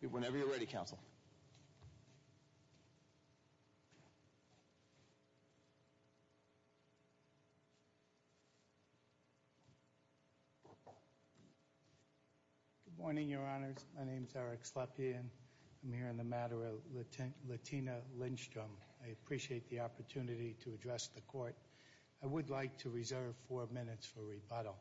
Good morning, Your Honors. My name is Eric Slepian. I'm here on the matter of Latina Lindstrom. I appreciate the opportunity to address the Court. I would like to reserve four minutes for rebuttal.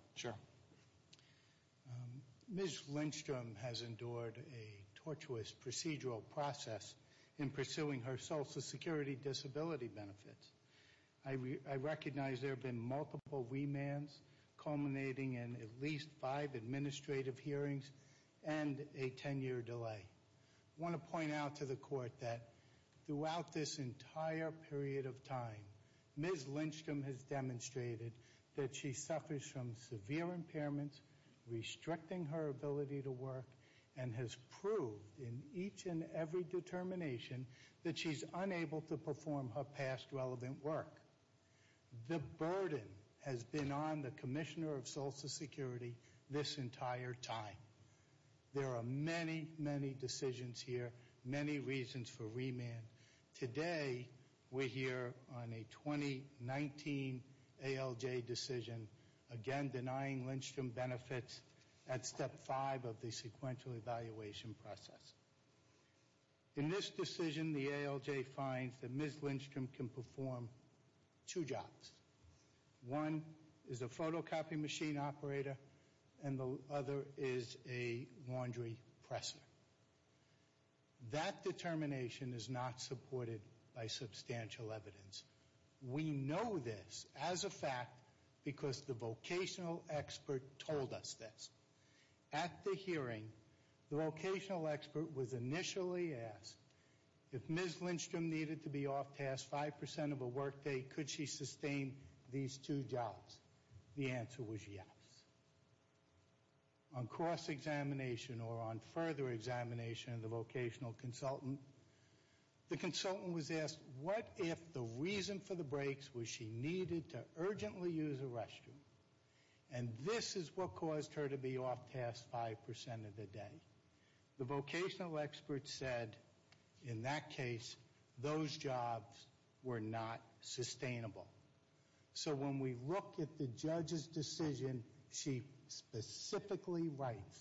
Ms. Lindstrom has endured a tortuous procedural process in pursuing her social security disability benefits. I recognize there have been multiple remands culminating in at least five administrative hearings and a ten-year delay. I want to point out that she suffers from severe impairments restricting her ability to work and has proved in each and every determination that she's unable to perform her past relevant work. The burden has been on the Commissioner of Social Security this entire time. There are many, many decisions here, many reasons for remand. Today, we're here on a 2019 ALJ decision, again denying Lindstrom benefits at step five of the sequential evaluation process. In this decision, the ALJ finds that Ms. Lindstrom can perform two jobs. One is a photocopy machine operator and the other is a laundry presser. That determination is not supported by substantial evidence. We know this as a fact because the vocational expert told us this. At the hearing, the vocational expert was initially asked if Ms. Lindstrom needed to be off-task five percent of a workday, could she sustain these two jobs? The answer was yes. On cross-examination or on further examination of the vocational consultant, the consultant was asked what if the reason for the breaks was she needed to urgently use a restroom and this is what caused her to be off-task five percent of the day. The vocational expert said in that case, those jobs were not sustainable. So when we look at the judge's decision, she specifically writes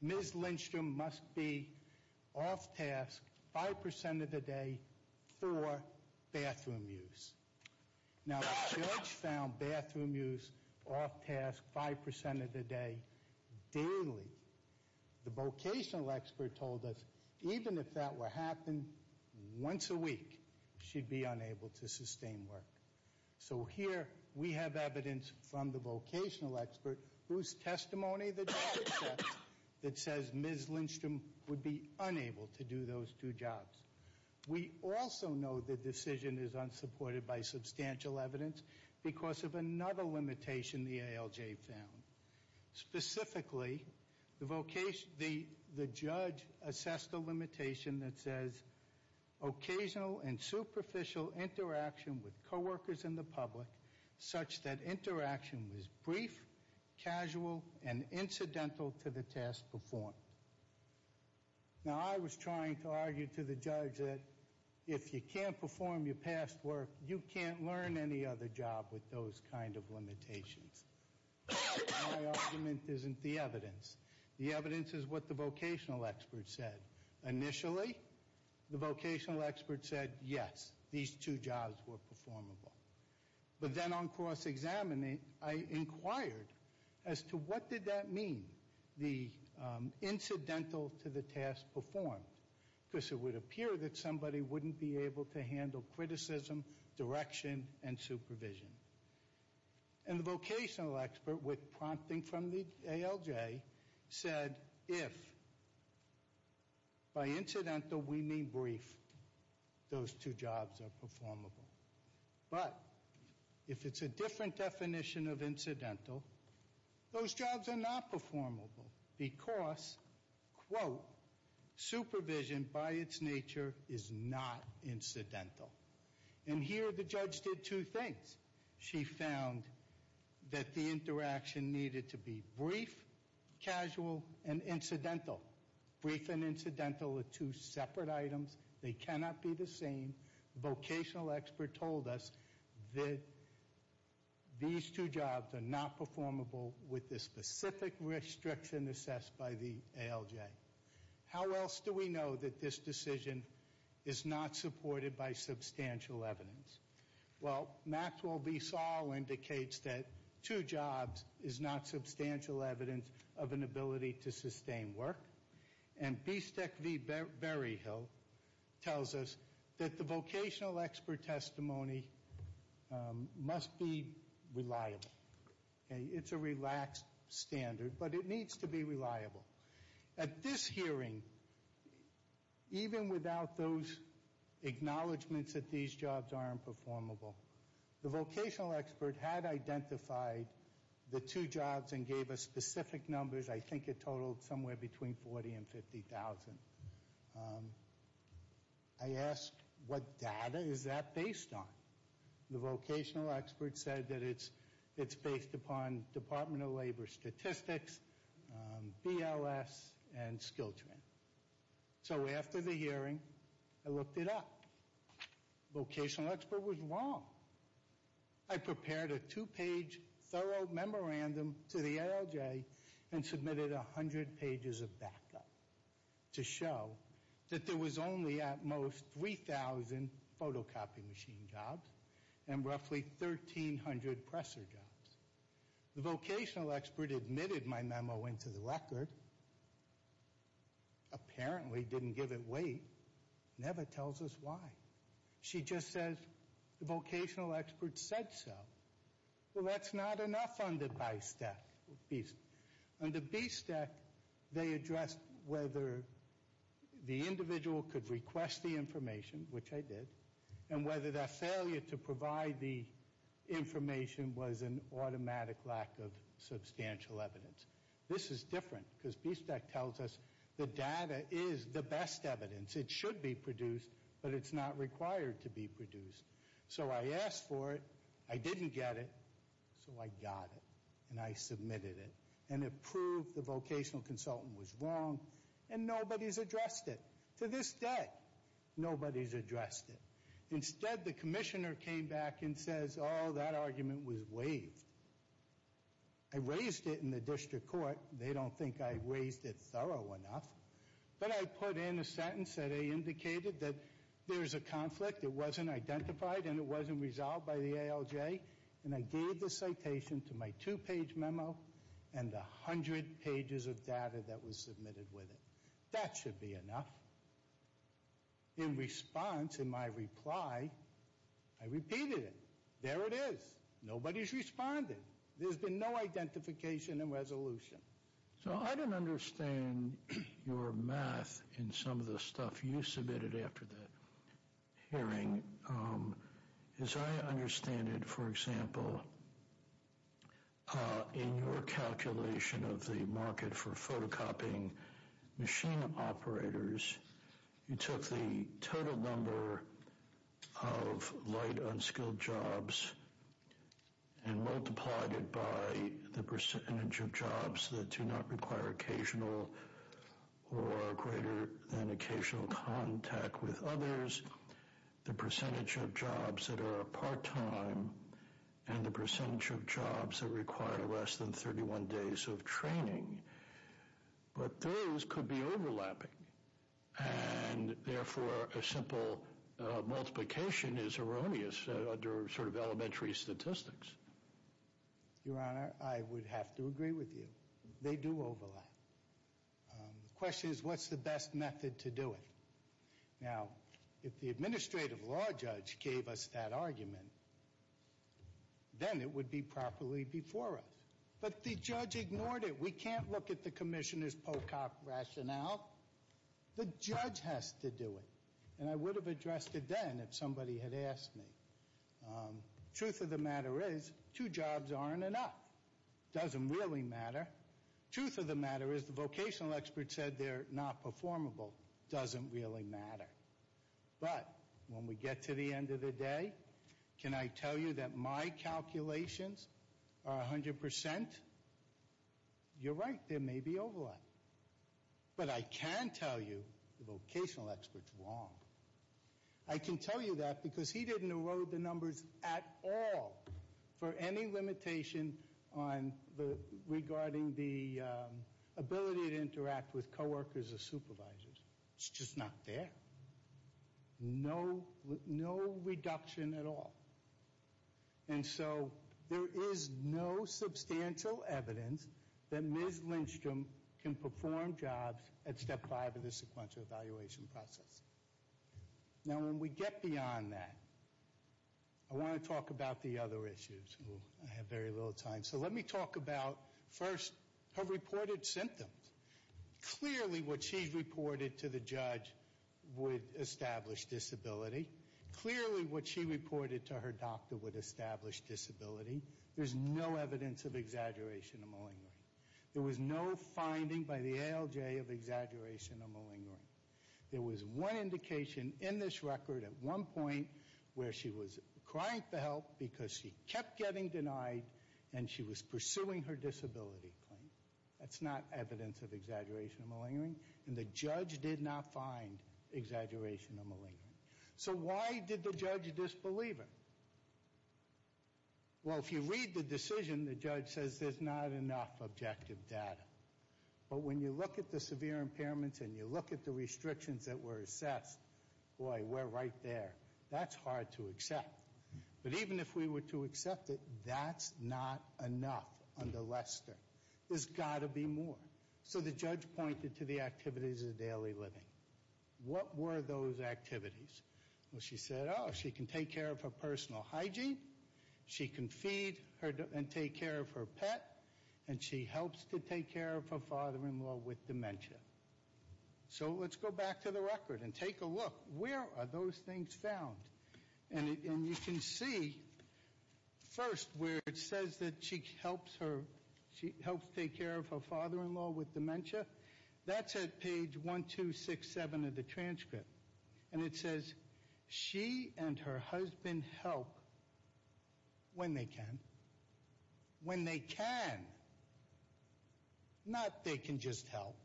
Ms. Lindstrom must be off-task five percent of the day for bathroom use. Now the judge found bathroom use off-task five percent of the day daily. The vocational expert told us even if that were to happen once a week, she'd be unable to sustain work. So here we have evidence from the vocational expert whose testimony the judge accepts that says Ms. Lindstrom would be unable to do those two jobs. We also know the decision is unsupported by substantial evidence because of another limitation the ALJ found. Specifically, the vocation, the judge assessed a limitation that says occasional and superficial interaction with co-workers in the public such that interaction was brief, casual, and incidental to the task performed. Now I was trying to argue to the judge that if you can't perform your past work, you can't learn any other job with those kind of limitations. My argument isn't the evidence. The evidence is what the vocational expert said. Initially, the vocational expert said yes, these two jobs were performable. But then on cross-examining, I inquired as to what did that mean, the incidental to the task performed, because it would appear that somebody wouldn't be able to handle criticism, direction, and supervision. And the vocational expert, with prompting from the ALJ, said if by incidental we mean brief, those two jobs are performable. But if it's a different definition of incidental, those jobs are not performable because, quote, supervision by its nature is not incidental. And here the judge did two things. She found that the interaction needed to be brief, casual, and incidental. Brief and incidental are two separate items. They cannot be the same. Vocational expert told us that these two jobs are not performable with the specific restriction assessed by the ALJ. How else do we know that this decision is not supported by substantial evidence? Well, Maxwell v. Saul indicates that two jobs is not substantial evidence of an ability to The vocational expert testimony must be reliable. It's a relaxed standard, but it needs to be reliable. At this hearing, even without those acknowledgements that these jobs aren't performable, the vocational expert had identified the two jobs and gave us specific numbers. I think it totaled somewhere between 40 and 50,000. I asked, what data is that based on? The vocational expert said that it's based upon Department of Labor statistics, BLS, and SkillTran. So after the hearing, I looked it up. Vocational expert was wrong. I prepared a two-page thorough memorandum to the ALJ and submitted 100 pages of backup. The papers show that there was only, at most, 3,000 photocopy machine jobs and roughly 1,300 presser jobs. The vocational expert admitted my memo into the record, apparently didn't give it weight, never tells us why. She just says, the vocational expert said so. Well, that's not enough on the BSTEC. On the BSTEC, they addressed whether the individual could request the information, which I did, and whether that failure to provide the information was an automatic lack of substantial evidence. This is different, because BSTEC tells us the data is the best evidence. It should be produced, but it's not required to be produced. So I asked for it, I didn't get it, so I got it, and I submitted it. And it proved the vocational consultant was wrong, and nobody's addressed it. To this day, nobody's addressed it. Instead, the commissioner came back and says, oh, that argument was waived. I raised it in the district court. They don't think I raised it thorough enough. But I put in a sentence that I indicated that there's a conflict, it wasn't identified, and it wasn't resolved by the ALJ. And I gave the citation to my two-page memo and the hundred pages of data that was submitted with it. That should be enough. In response, in my reply, I repeated it. There it is. Nobody's responded. There's been no identification and resolution. So I don't understand your math in some of the stuff you submitted after that hearing. As I understand it, for example, in your calculation of the market for photocopying machine operators, you took the total number of light unskilled jobs and multiplied it by the percentage of jobs that do not require occasional or greater than occasional contact with others, the percentage of jobs that are part-time, and the percentage of jobs that require less than 31 days of training. But those could be overlapping. And therefore, a simple multiplication is erroneous under sort of elementary statistics. Your Honor, I would have to agree with you. They do overlap. The question is, what's the best method to do it? Now, if the administrative law judge gave us that argument, then it would be properly before us. But the judge ignored it. We can't look at the commissioner's photocop rationale. The judge has to do it. And I would have addressed it then if somebody had asked me. Truth of the matter is, two jobs aren't enough. Doesn't really matter. Truth of the matter is, the vocational expert said they're not performable. Doesn't really matter. But when we get to the end of the day, can I tell you that my calculations are 100%? You're right, there may be overlap. But I can tell you the vocational expert's wrong. I can tell you that because he didn't erode the numbers at all for any limitation regarding the ability to interact with coworkers or supervisors. It's just not there. No reduction at all. And so there is no substantial evidence that Ms. Lindstrom can perform jobs at step five of the sequential evaluation process. Now, when we get beyond that, I want to talk about the other issues. I have very little time. So let me talk about, first, her reported symptoms. Clearly, what she reported to the judge would establish disability. Clearly, what she reported to her doctor would establish disability. There's no evidence of exaggeration of malingering. There was no finding by the ALJ of exaggeration of malingering. There was one indication in this record at one point where she was crying for help because she kept getting denied and she was pursuing her disability claim. That's not evidence of exaggeration of malingering. And the judge did not find exaggeration of malingering. So why did the judge disbelieve her? Well, if you read the decision, the judge says there's not enough objective data. But when you look at the severe impairments and you look at the restrictions that were assessed, boy, we're right there. That's hard to accept. But even if we were to accept it, that's not enough under Lester. There's got to be more. So the judge pointed to the activities of daily living. What were those activities? Well, she said, oh, she can take care of her personal hygiene. She can feed and take care of her pet. And she helps to take care of her father-in-law with dementia. So let's go back to the record and take a look. Where are those things found? And you can see first where it says that she helps take care of her father-in-law with dementia. That's at page 1, 2, 6, 7 of the transcript. And it says she and her husband help when they can. When they can. Not they can just help.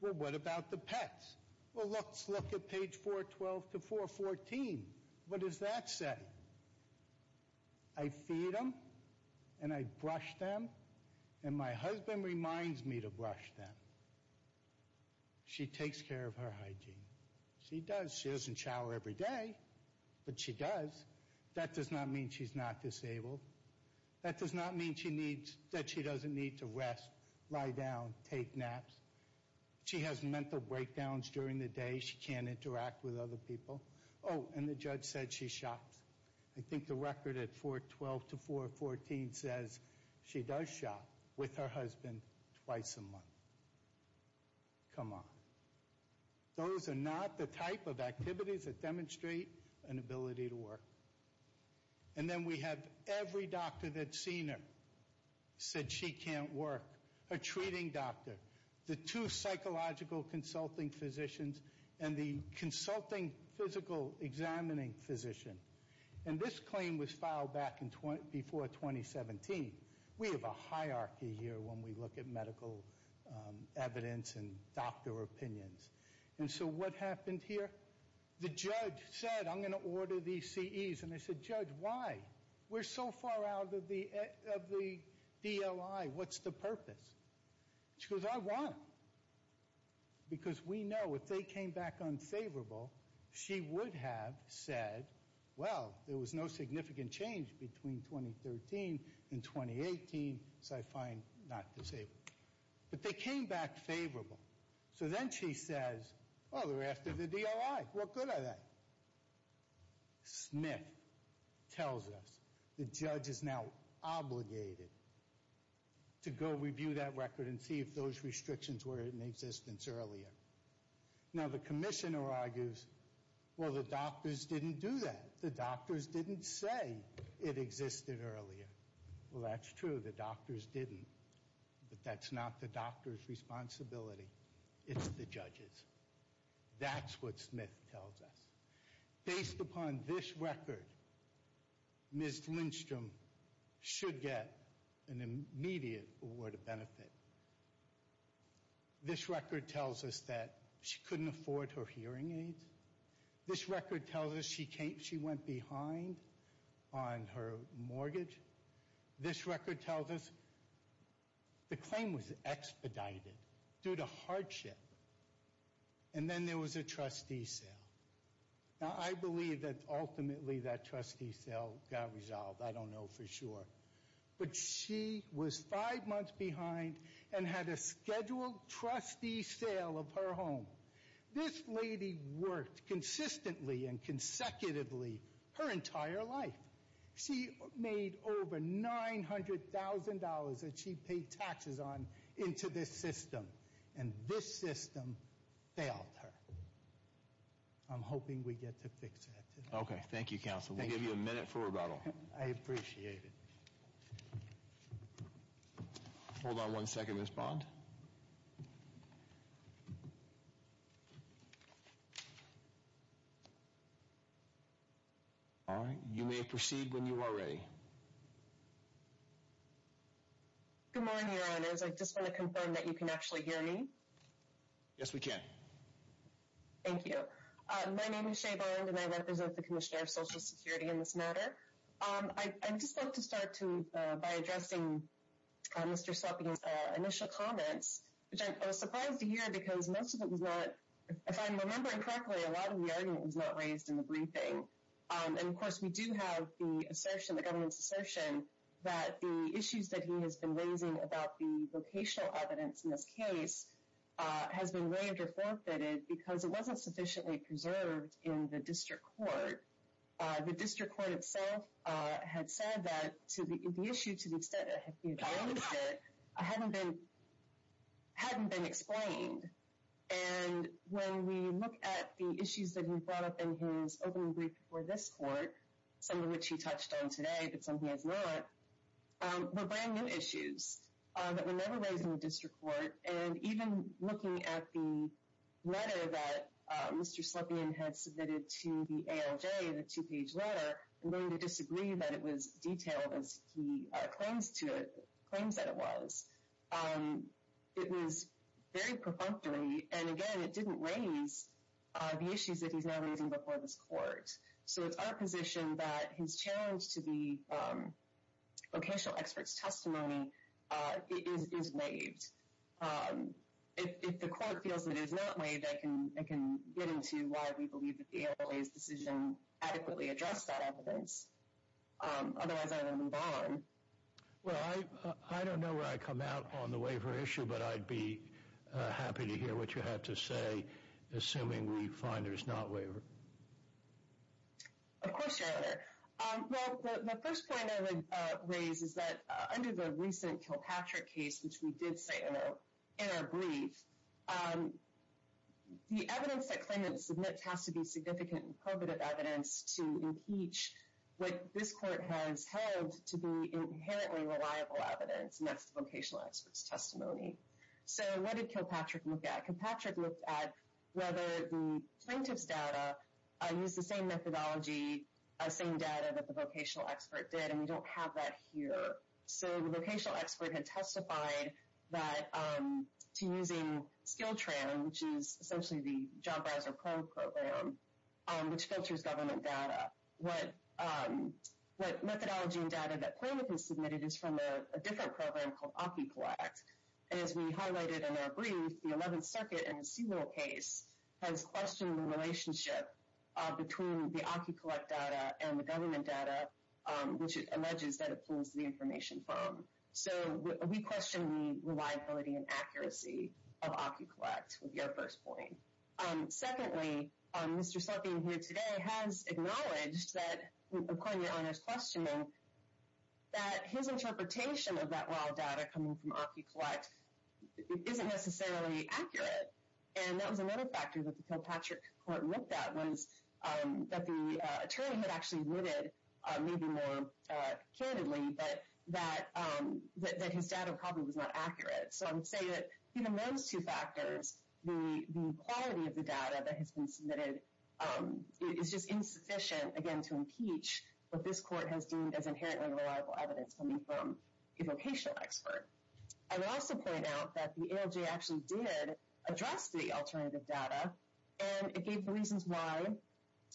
Well, what about the pets? Well, let's look at page 412 to 414. What does that say? I feed them and I brush them and my husband reminds me to brush them. She takes care of her hygiene. She does. She doesn't shower every day, but she does. That does not mean she's not disabled. That does not mean that she doesn't need to rest, lie down, take naps. She has mental breakdowns during the day. She can't interact with other people. Oh, and the judge said she shops. I think the record at 412 to 414 says she does shop with her husband twice a month. Come on. Those are not the type of activities that demonstrate an ability to work. And then we have every doctor that's seen her said she can't work. Her treating doctor, the two psychological consulting physicians, and the consulting physical examining physician. And this claim was filed back before 2017. We have a hierarchy here when we look at medical evidence and doctor opinions. And so what happened here? The judge said, I'm going to order these CEs. And I said, judge, why? We're so far out of the DOI. What's the purpose? She goes, I want them. Because we know if they came back unfavorable, she would have said, well, there was no significant change between 2013 and 2018, so I find not disabled. But they came back favorable. So then she says, oh, they're after the DOI. What good are they? Smith tells us the judge is now obligated to go review that record and see if those restrictions were in existence earlier. Now, the commissioner argues, well, the doctors didn't do that. The doctors didn't say it existed earlier. Well, that's true. The doctors didn't. But that's not the doctor's responsibility. It's the judge's. That's what Smith tells us. Based upon this record, Ms. Lindstrom should get an immediate award of benefit. Now, this record tells us that she couldn't afford her hearing aids. This record tells us she went behind on her mortgage. This record tells us the claim was expedited due to hardship. And then there was a trustee sale. Now, I believe that ultimately that trustee sale got resolved. I don't know for sure. But she was five months behind and had a scheduled trustee sale of her home. This lady worked consistently and consecutively her entire life. She made over $900,000 that she paid taxes on into this system. And this system failed her. I'm hoping we get to fix it. Okay, thank you, counsel. We'll give you a minute for rebuttal. I appreciate it. Hold on one second, Ms. Bond. All right, you may proceed when you are ready. Good morning, your honors. I just want to confirm that you can actually hear me. Yes, we can. Thank you. My name is Shay Bond and I represent the Commissioner of Social Security in this matter. I just want to start to by addressing Mr. Suppy's initial comments, which I was surprised to hear because most of it was not, if I'm remembering correctly, a lot of the argument was not raised in the briefing. And of course, we do have the assertion, the government's assertion that the issues that he has been raising about the vocational evidence in this case has been waived or forfeited because it wasn't sufficiently preserved in the district court. The district court itself had said that to the issue to the extent that I hadn't been, hadn't been explained. And when we look at the issues that he brought up in his opening brief for this court, some of which he touched on today, but some he has not, were brand new issues that were never raised in the district court. And even looking at the letter that Mr. Suppy had submitted to the ALJ, the two-page letter, I'm going to disagree that it was detailed as he claims to, claims that it was. It was very perfunctory. And again, it didn't raise the issues that he's now raising before this court. So it's our position that his challenge to the vocational experts testimony is waived. If the court feels that it is not waived, I can get into why we believe that the ALJ's decision adequately addressed that evidence. Otherwise, I would move on. Well, I don't know where I come out on the waiver issue, but I'd be happy to hear what you have to say. Assuming we find there's not waiver. Of course, Your Honor. Well, the first point I would raise is that under the recent Kilpatrick case, which we did say in our brief, the evidence that claimants submit has to be significant and probative evidence to impeach what this court has held to be inherently reliable evidence. And that's the vocational experts testimony. So what did Kilpatrick look at? Kilpatrick looked at whether the plaintiff's data used the same methodology, same data that the vocational expert did. And we don't have that here. So the vocational expert had testified that to using SkillTran, which is essentially the Job Browser Pro Program, which filters government data. What methodology and data that plaintiff has submitted is from a different program called AkiCollect. And as we highlighted in our brief, the 11th Circuit in a single case has questioned the relationship between the AkiCollect data and the government data, which it alleges that it pulls the information from. So we question the reliability and accuracy of AkiCollect, would be our first point. Secondly, Mr. Southeen here today has acknowledged that, according to your Honor's questioning, that his interpretation of that raw data coming from AkiCollect isn't necessarily accurate. And that was another factor that the Kilpatrick court looked at was that the attorney had actually admitted, maybe more candidly, that his data probably was not accurate. So I would say that in those two factors, the quality of the data that has been submitted is just insufficient, again, to impeach what this court has deemed as inherently reliable evidence coming from a vocational expert. I would also point out that the ALJ actually did address the alternative data. And it gave the reasons why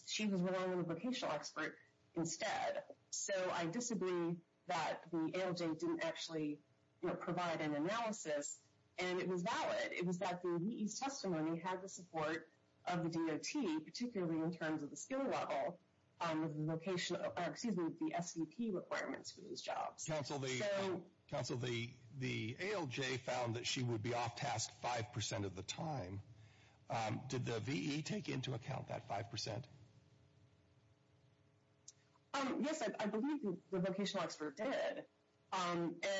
she was relying on a vocational expert instead. So I disagree that the ALJ didn't actually provide an analysis. And it was valid. It was that the testimony had the support of the DOT, particularly in terms of the skill level, with the vocational, excuse me, the SVP requirements for those jobs. Counsel, the ALJ found that she would be off task five percent of the time. Did the VE take into account that five percent? Yes, I believe the vocational expert did.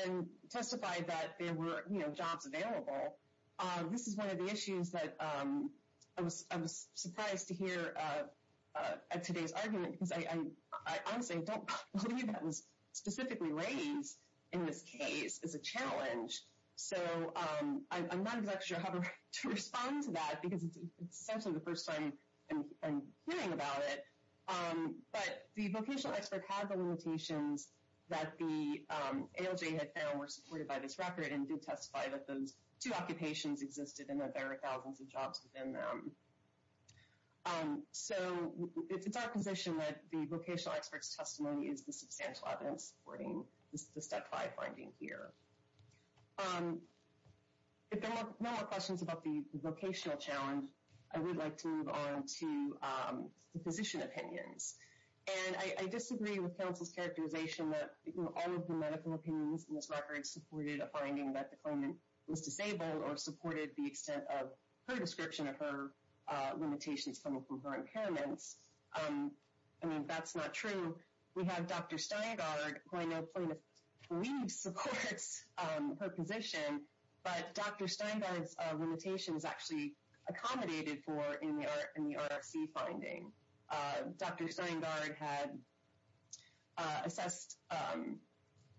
And testified that there were, you know, jobs available. This is one of the issues that I was surprised to hear at today's argument because I honestly don't believe that was specifically raised in this case as a challenge. So I'm not exactly sure how to respond to that because it's essentially the first time I'm hearing about it. But the vocational expert had the limitations that the ALJ had found were supported by this record and did testify that those two occupations existed and that there are thousands of jobs within them. So it's our position that the vocational expert's testimony is the substantial evidence supporting the step five finding here. If there are no more questions about the vocational challenge, I would like to move on to the physician opinions. And I disagree with counsel's characterization that all of the medical opinions in this record supported a finding that the claimant was disabled or supported the extent of her description of her limitations coming from her impairments. I mean, that's not true. We have Dr. Steingard, who I know plaintiff believes supports her position. But Dr. Steingard's limitations actually accommodated for in the RFC finding. Dr. Steingard had assessed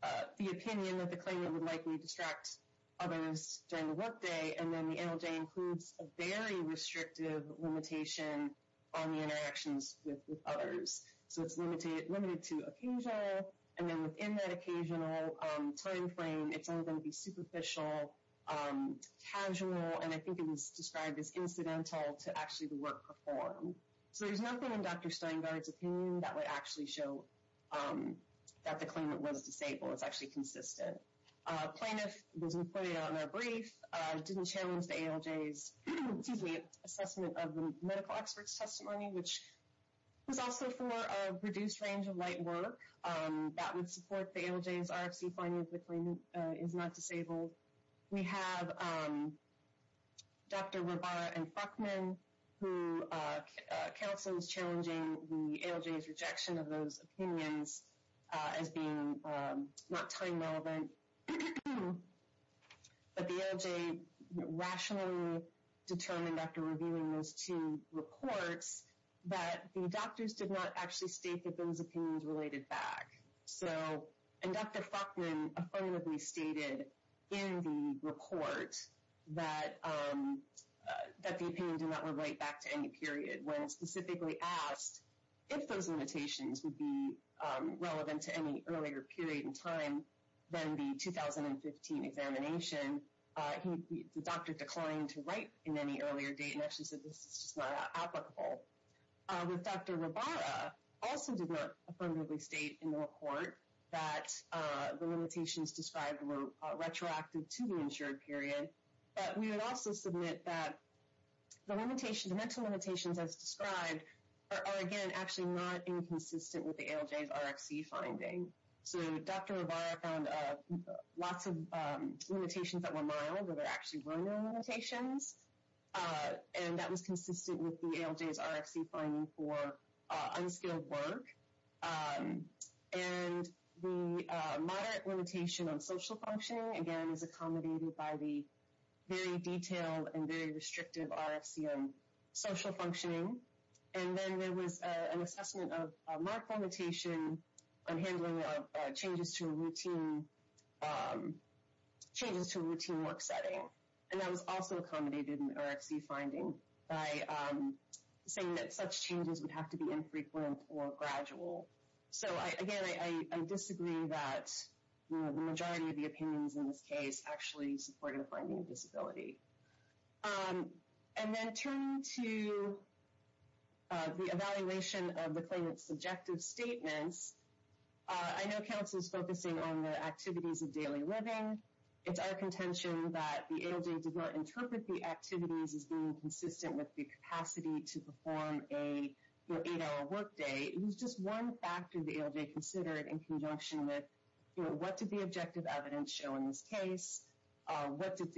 the opinion that the claimant would likely distract others during the workday. And then the ALJ includes a very restrictive limitation on the interactions with others. So it's limited to occasional. And then within that occasional time frame, it's only going to be superficial, casual. And I think it was described as incidental to actually the work performed. So there's nothing in Dr. Steingard's opinion that would actually show that the claimant was disabled. It's actually consistent. Plaintiff doesn't put it on their brief, didn't challenge the ALJ's assessment of the medical expert's testimony, which was also for a reduced range of light work. That would support the ALJ's RFC finding that the claimant is not disabled. We have Dr. Rabara and Frachman, who counsel is challenging the ALJ's rejection of those opinions as being not time relevant. But the ALJ rationally determined after reviewing those two reports, that the doctors did not actually state that those opinions related back. So and Dr. Frachman affirmatively stated in the report that the opinion did not relate back to any period when specifically asked if those limitations would be relevant to any earlier period in time than the 2015 examination. The doctor declined to write in any earlier date and actually said this is not applicable. With Dr. Rabara also did not affirmatively state in the report that the limitations described were retroactive to the insured period. But we would also submit that the limitations, the mental limitations as described are again, actually not inconsistent with the ALJ's RFC finding. So Dr. Rabara found lots of limitations that were mild where there actually were no limitations. And that was consistent with the ALJ's RFC finding for unskilled work. And the moderate limitation on social functioning, again, is accommodated by the very detailed and very restrictive RFC on social functioning. And then there was an assessment of marked limitation on handling of changes to routine work setting. And that was also accommodated in RFC finding by saying that such changes would have to be infrequent or gradual. So, again, I disagree that the majority of the opinions in this case actually supported the finding of disability. And then turn to the evaluation of the claimant's subjective statements. I know Council is focusing on the activities of daily living. It's our contention that the ALJ did not interpret the activities as being consistent with the capacity to perform a eight-hour workday. It was just one factor the ALJ considered in conjunction with, you know, what did the objective evidence show in this case? What did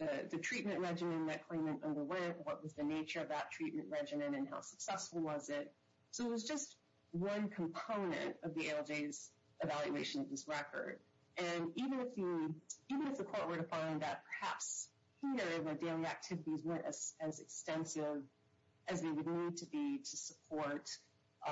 the treatment regimen that claimant underwent? What was the nature of that treatment regimen? And how successful was it? So it was just one component of the ALJ's evaluation of this record. And even if you... Even if the court were to find that perhaps here, the daily activities weren't as extensive as they would need to be to support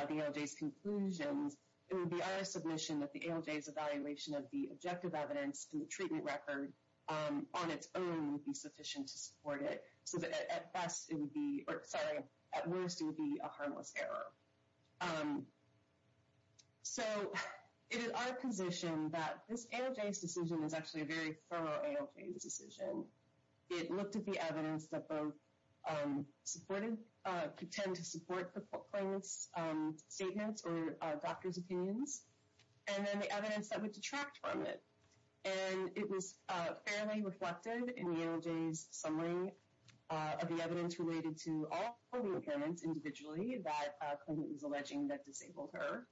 the ALJ's conclusions, it would be our submission that the ALJ's evaluation of the objective evidence and the treatment record on its own would be sufficient to support it. So that at best, it would be... Or sorry, at worst, it would be a harmless error. So it is our position that this ALJ's decision is actually a very thorough ALJ's decision. It looked at the evidence that both supported... Pretend to support the claimant's statements or doctor's opinions. And then the evidence that would detract from it. And it was fairly reflected in the ALJ's summary of the evidence related to all polio claimants individually that the claimant was alleging that disabled her.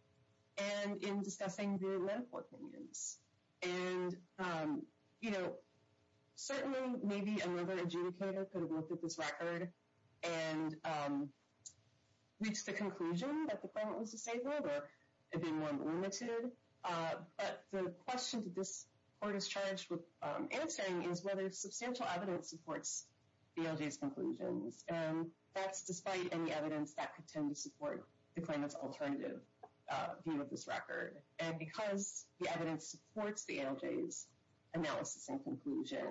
And in discussing the medical opinions. And, you know, certainly maybe another adjudicator could have looked at this record and reached the conclusion that the claimant was disabled or had been more limited. But the question that this court is charged with answering is whether substantial evidence supports the ALJ's conclusions. And that's despite any evidence that could tend to support the claimant's alternative view of this record. And because the evidence supports the ALJ's analysis and conclusion.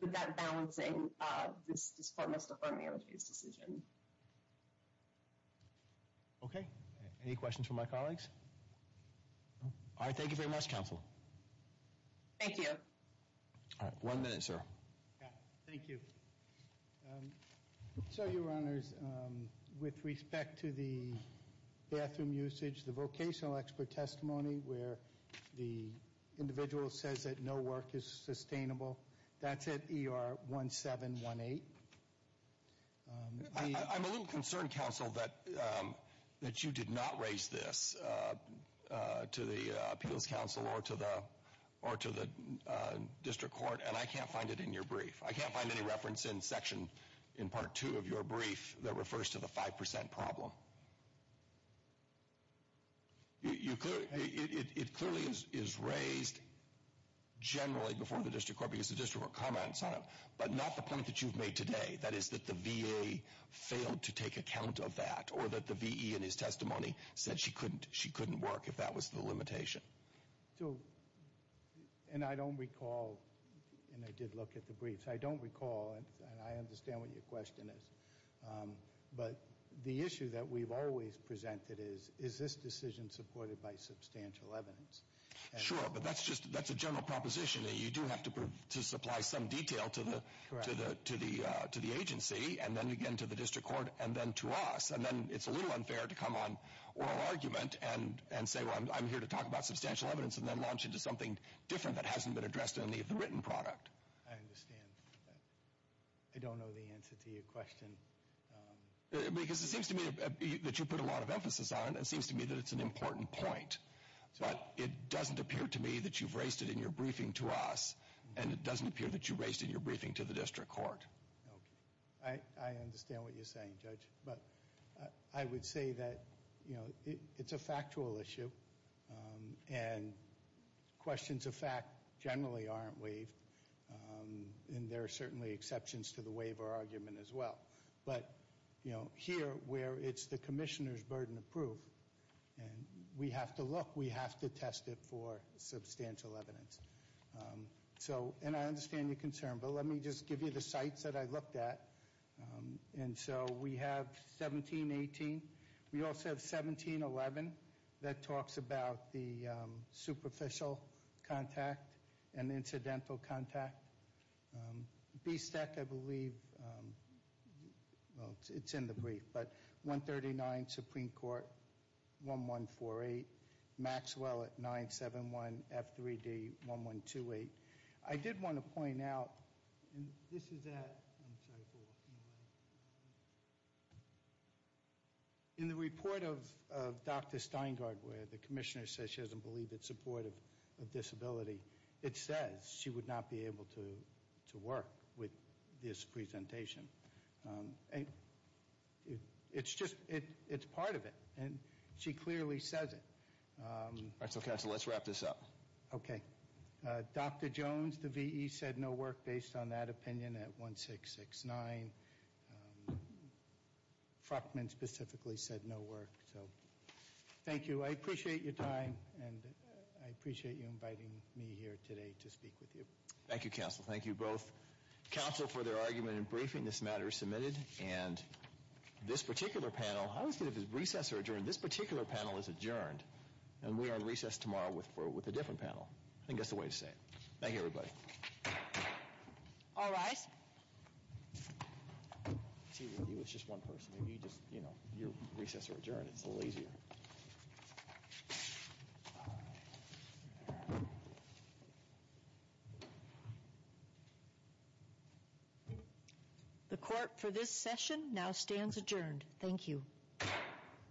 With that balancing, this court must affirm the ALJ's decision. Okay. Any questions from my colleagues? All right. Thank you very much, counsel. Thank you. All right. One minute, sir. Thank you. So, your honors, with respect to the bathroom usage, the vocational expert testimony where the individual says that no work is sustainable, that's at ER 1718. I'm a little concerned, counsel, that you did not raise this to the appeals counsel or to the district court. And I can't find it in your brief. I can't find any reference in section in part two of your brief that refers to the 5% problem. It clearly is raised generally before the district court because the district court comments on it, but not the point that you've made today. That is that the VA failed to take account of that or that the VE in his testimony said she couldn't work if that was the limitation. So, and I don't recall, and I did look at the briefs, I don't recall, and I understand what your question is. But the issue that we've always presented is, is this decision supported by substantial evidence? Sure, but that's just, that's a general proposition. You do have to supply some detail to the agency and then again to the district court and then to us. And then it's a little unfair to come on oral argument and say, well, I'm here to talk about substantial evidence and then launch into something different that hasn't been addressed in any of the written product. I understand that. I don't know the answer to your question. Because it seems to me that you put a lot of emphasis on and it seems to me that it's an important point. But it doesn't appear to me that you've raised it in your briefing to us and it doesn't appear that you raised it in your briefing to the district court. Okay, I understand what you're saying, Judge. But I would say that, you know, it's a factual issue and questions of fact generally aren't waived. And there are certainly exceptions to the waiver argument as well. But, you know, here where it's the commissioner's burden of proof and we have to look, we have to test it for substantial evidence. So, and I understand your concern. But let me just give you the sites that I looked at. And so we have 1718. We also have 1711 that talks about the superficial contact and the incidental contact. B-STEC, I believe, well, it's in the brief. But 139 Supreme Court, 1148. Maxwell at 971 F3D, 1128. I did want to point out, and this is at, I'm sorry for walking away. In the report of Dr. Steingard where the commissioner says she doesn't believe it's supportive of disability, it says she would not be able to work with this presentation. It's just, it's part of it. And she clearly says it. All right, so counsel, let's wrap this up. Okay. Dr. Jones, the VE, said no work based on that opinion at 1669. Fruckman specifically said no work. So, thank you. I appreciate your time. And I appreciate you inviting me here today to speak with you. Thank you, counsel. Thank you both, counsel, for their argument and briefing. This matter is submitted. And this particular panel, I would say if it's recess or adjourned, this particular panel is adjourned. And we are on recess tomorrow with a different panel. I think that's the way to say it. Thank you, everybody. All rise. See, he was just one person. Maybe you just, you know, your recess or adjourn. It's a little easier. Thank you. The court for this session now stands adjourned. Thank you.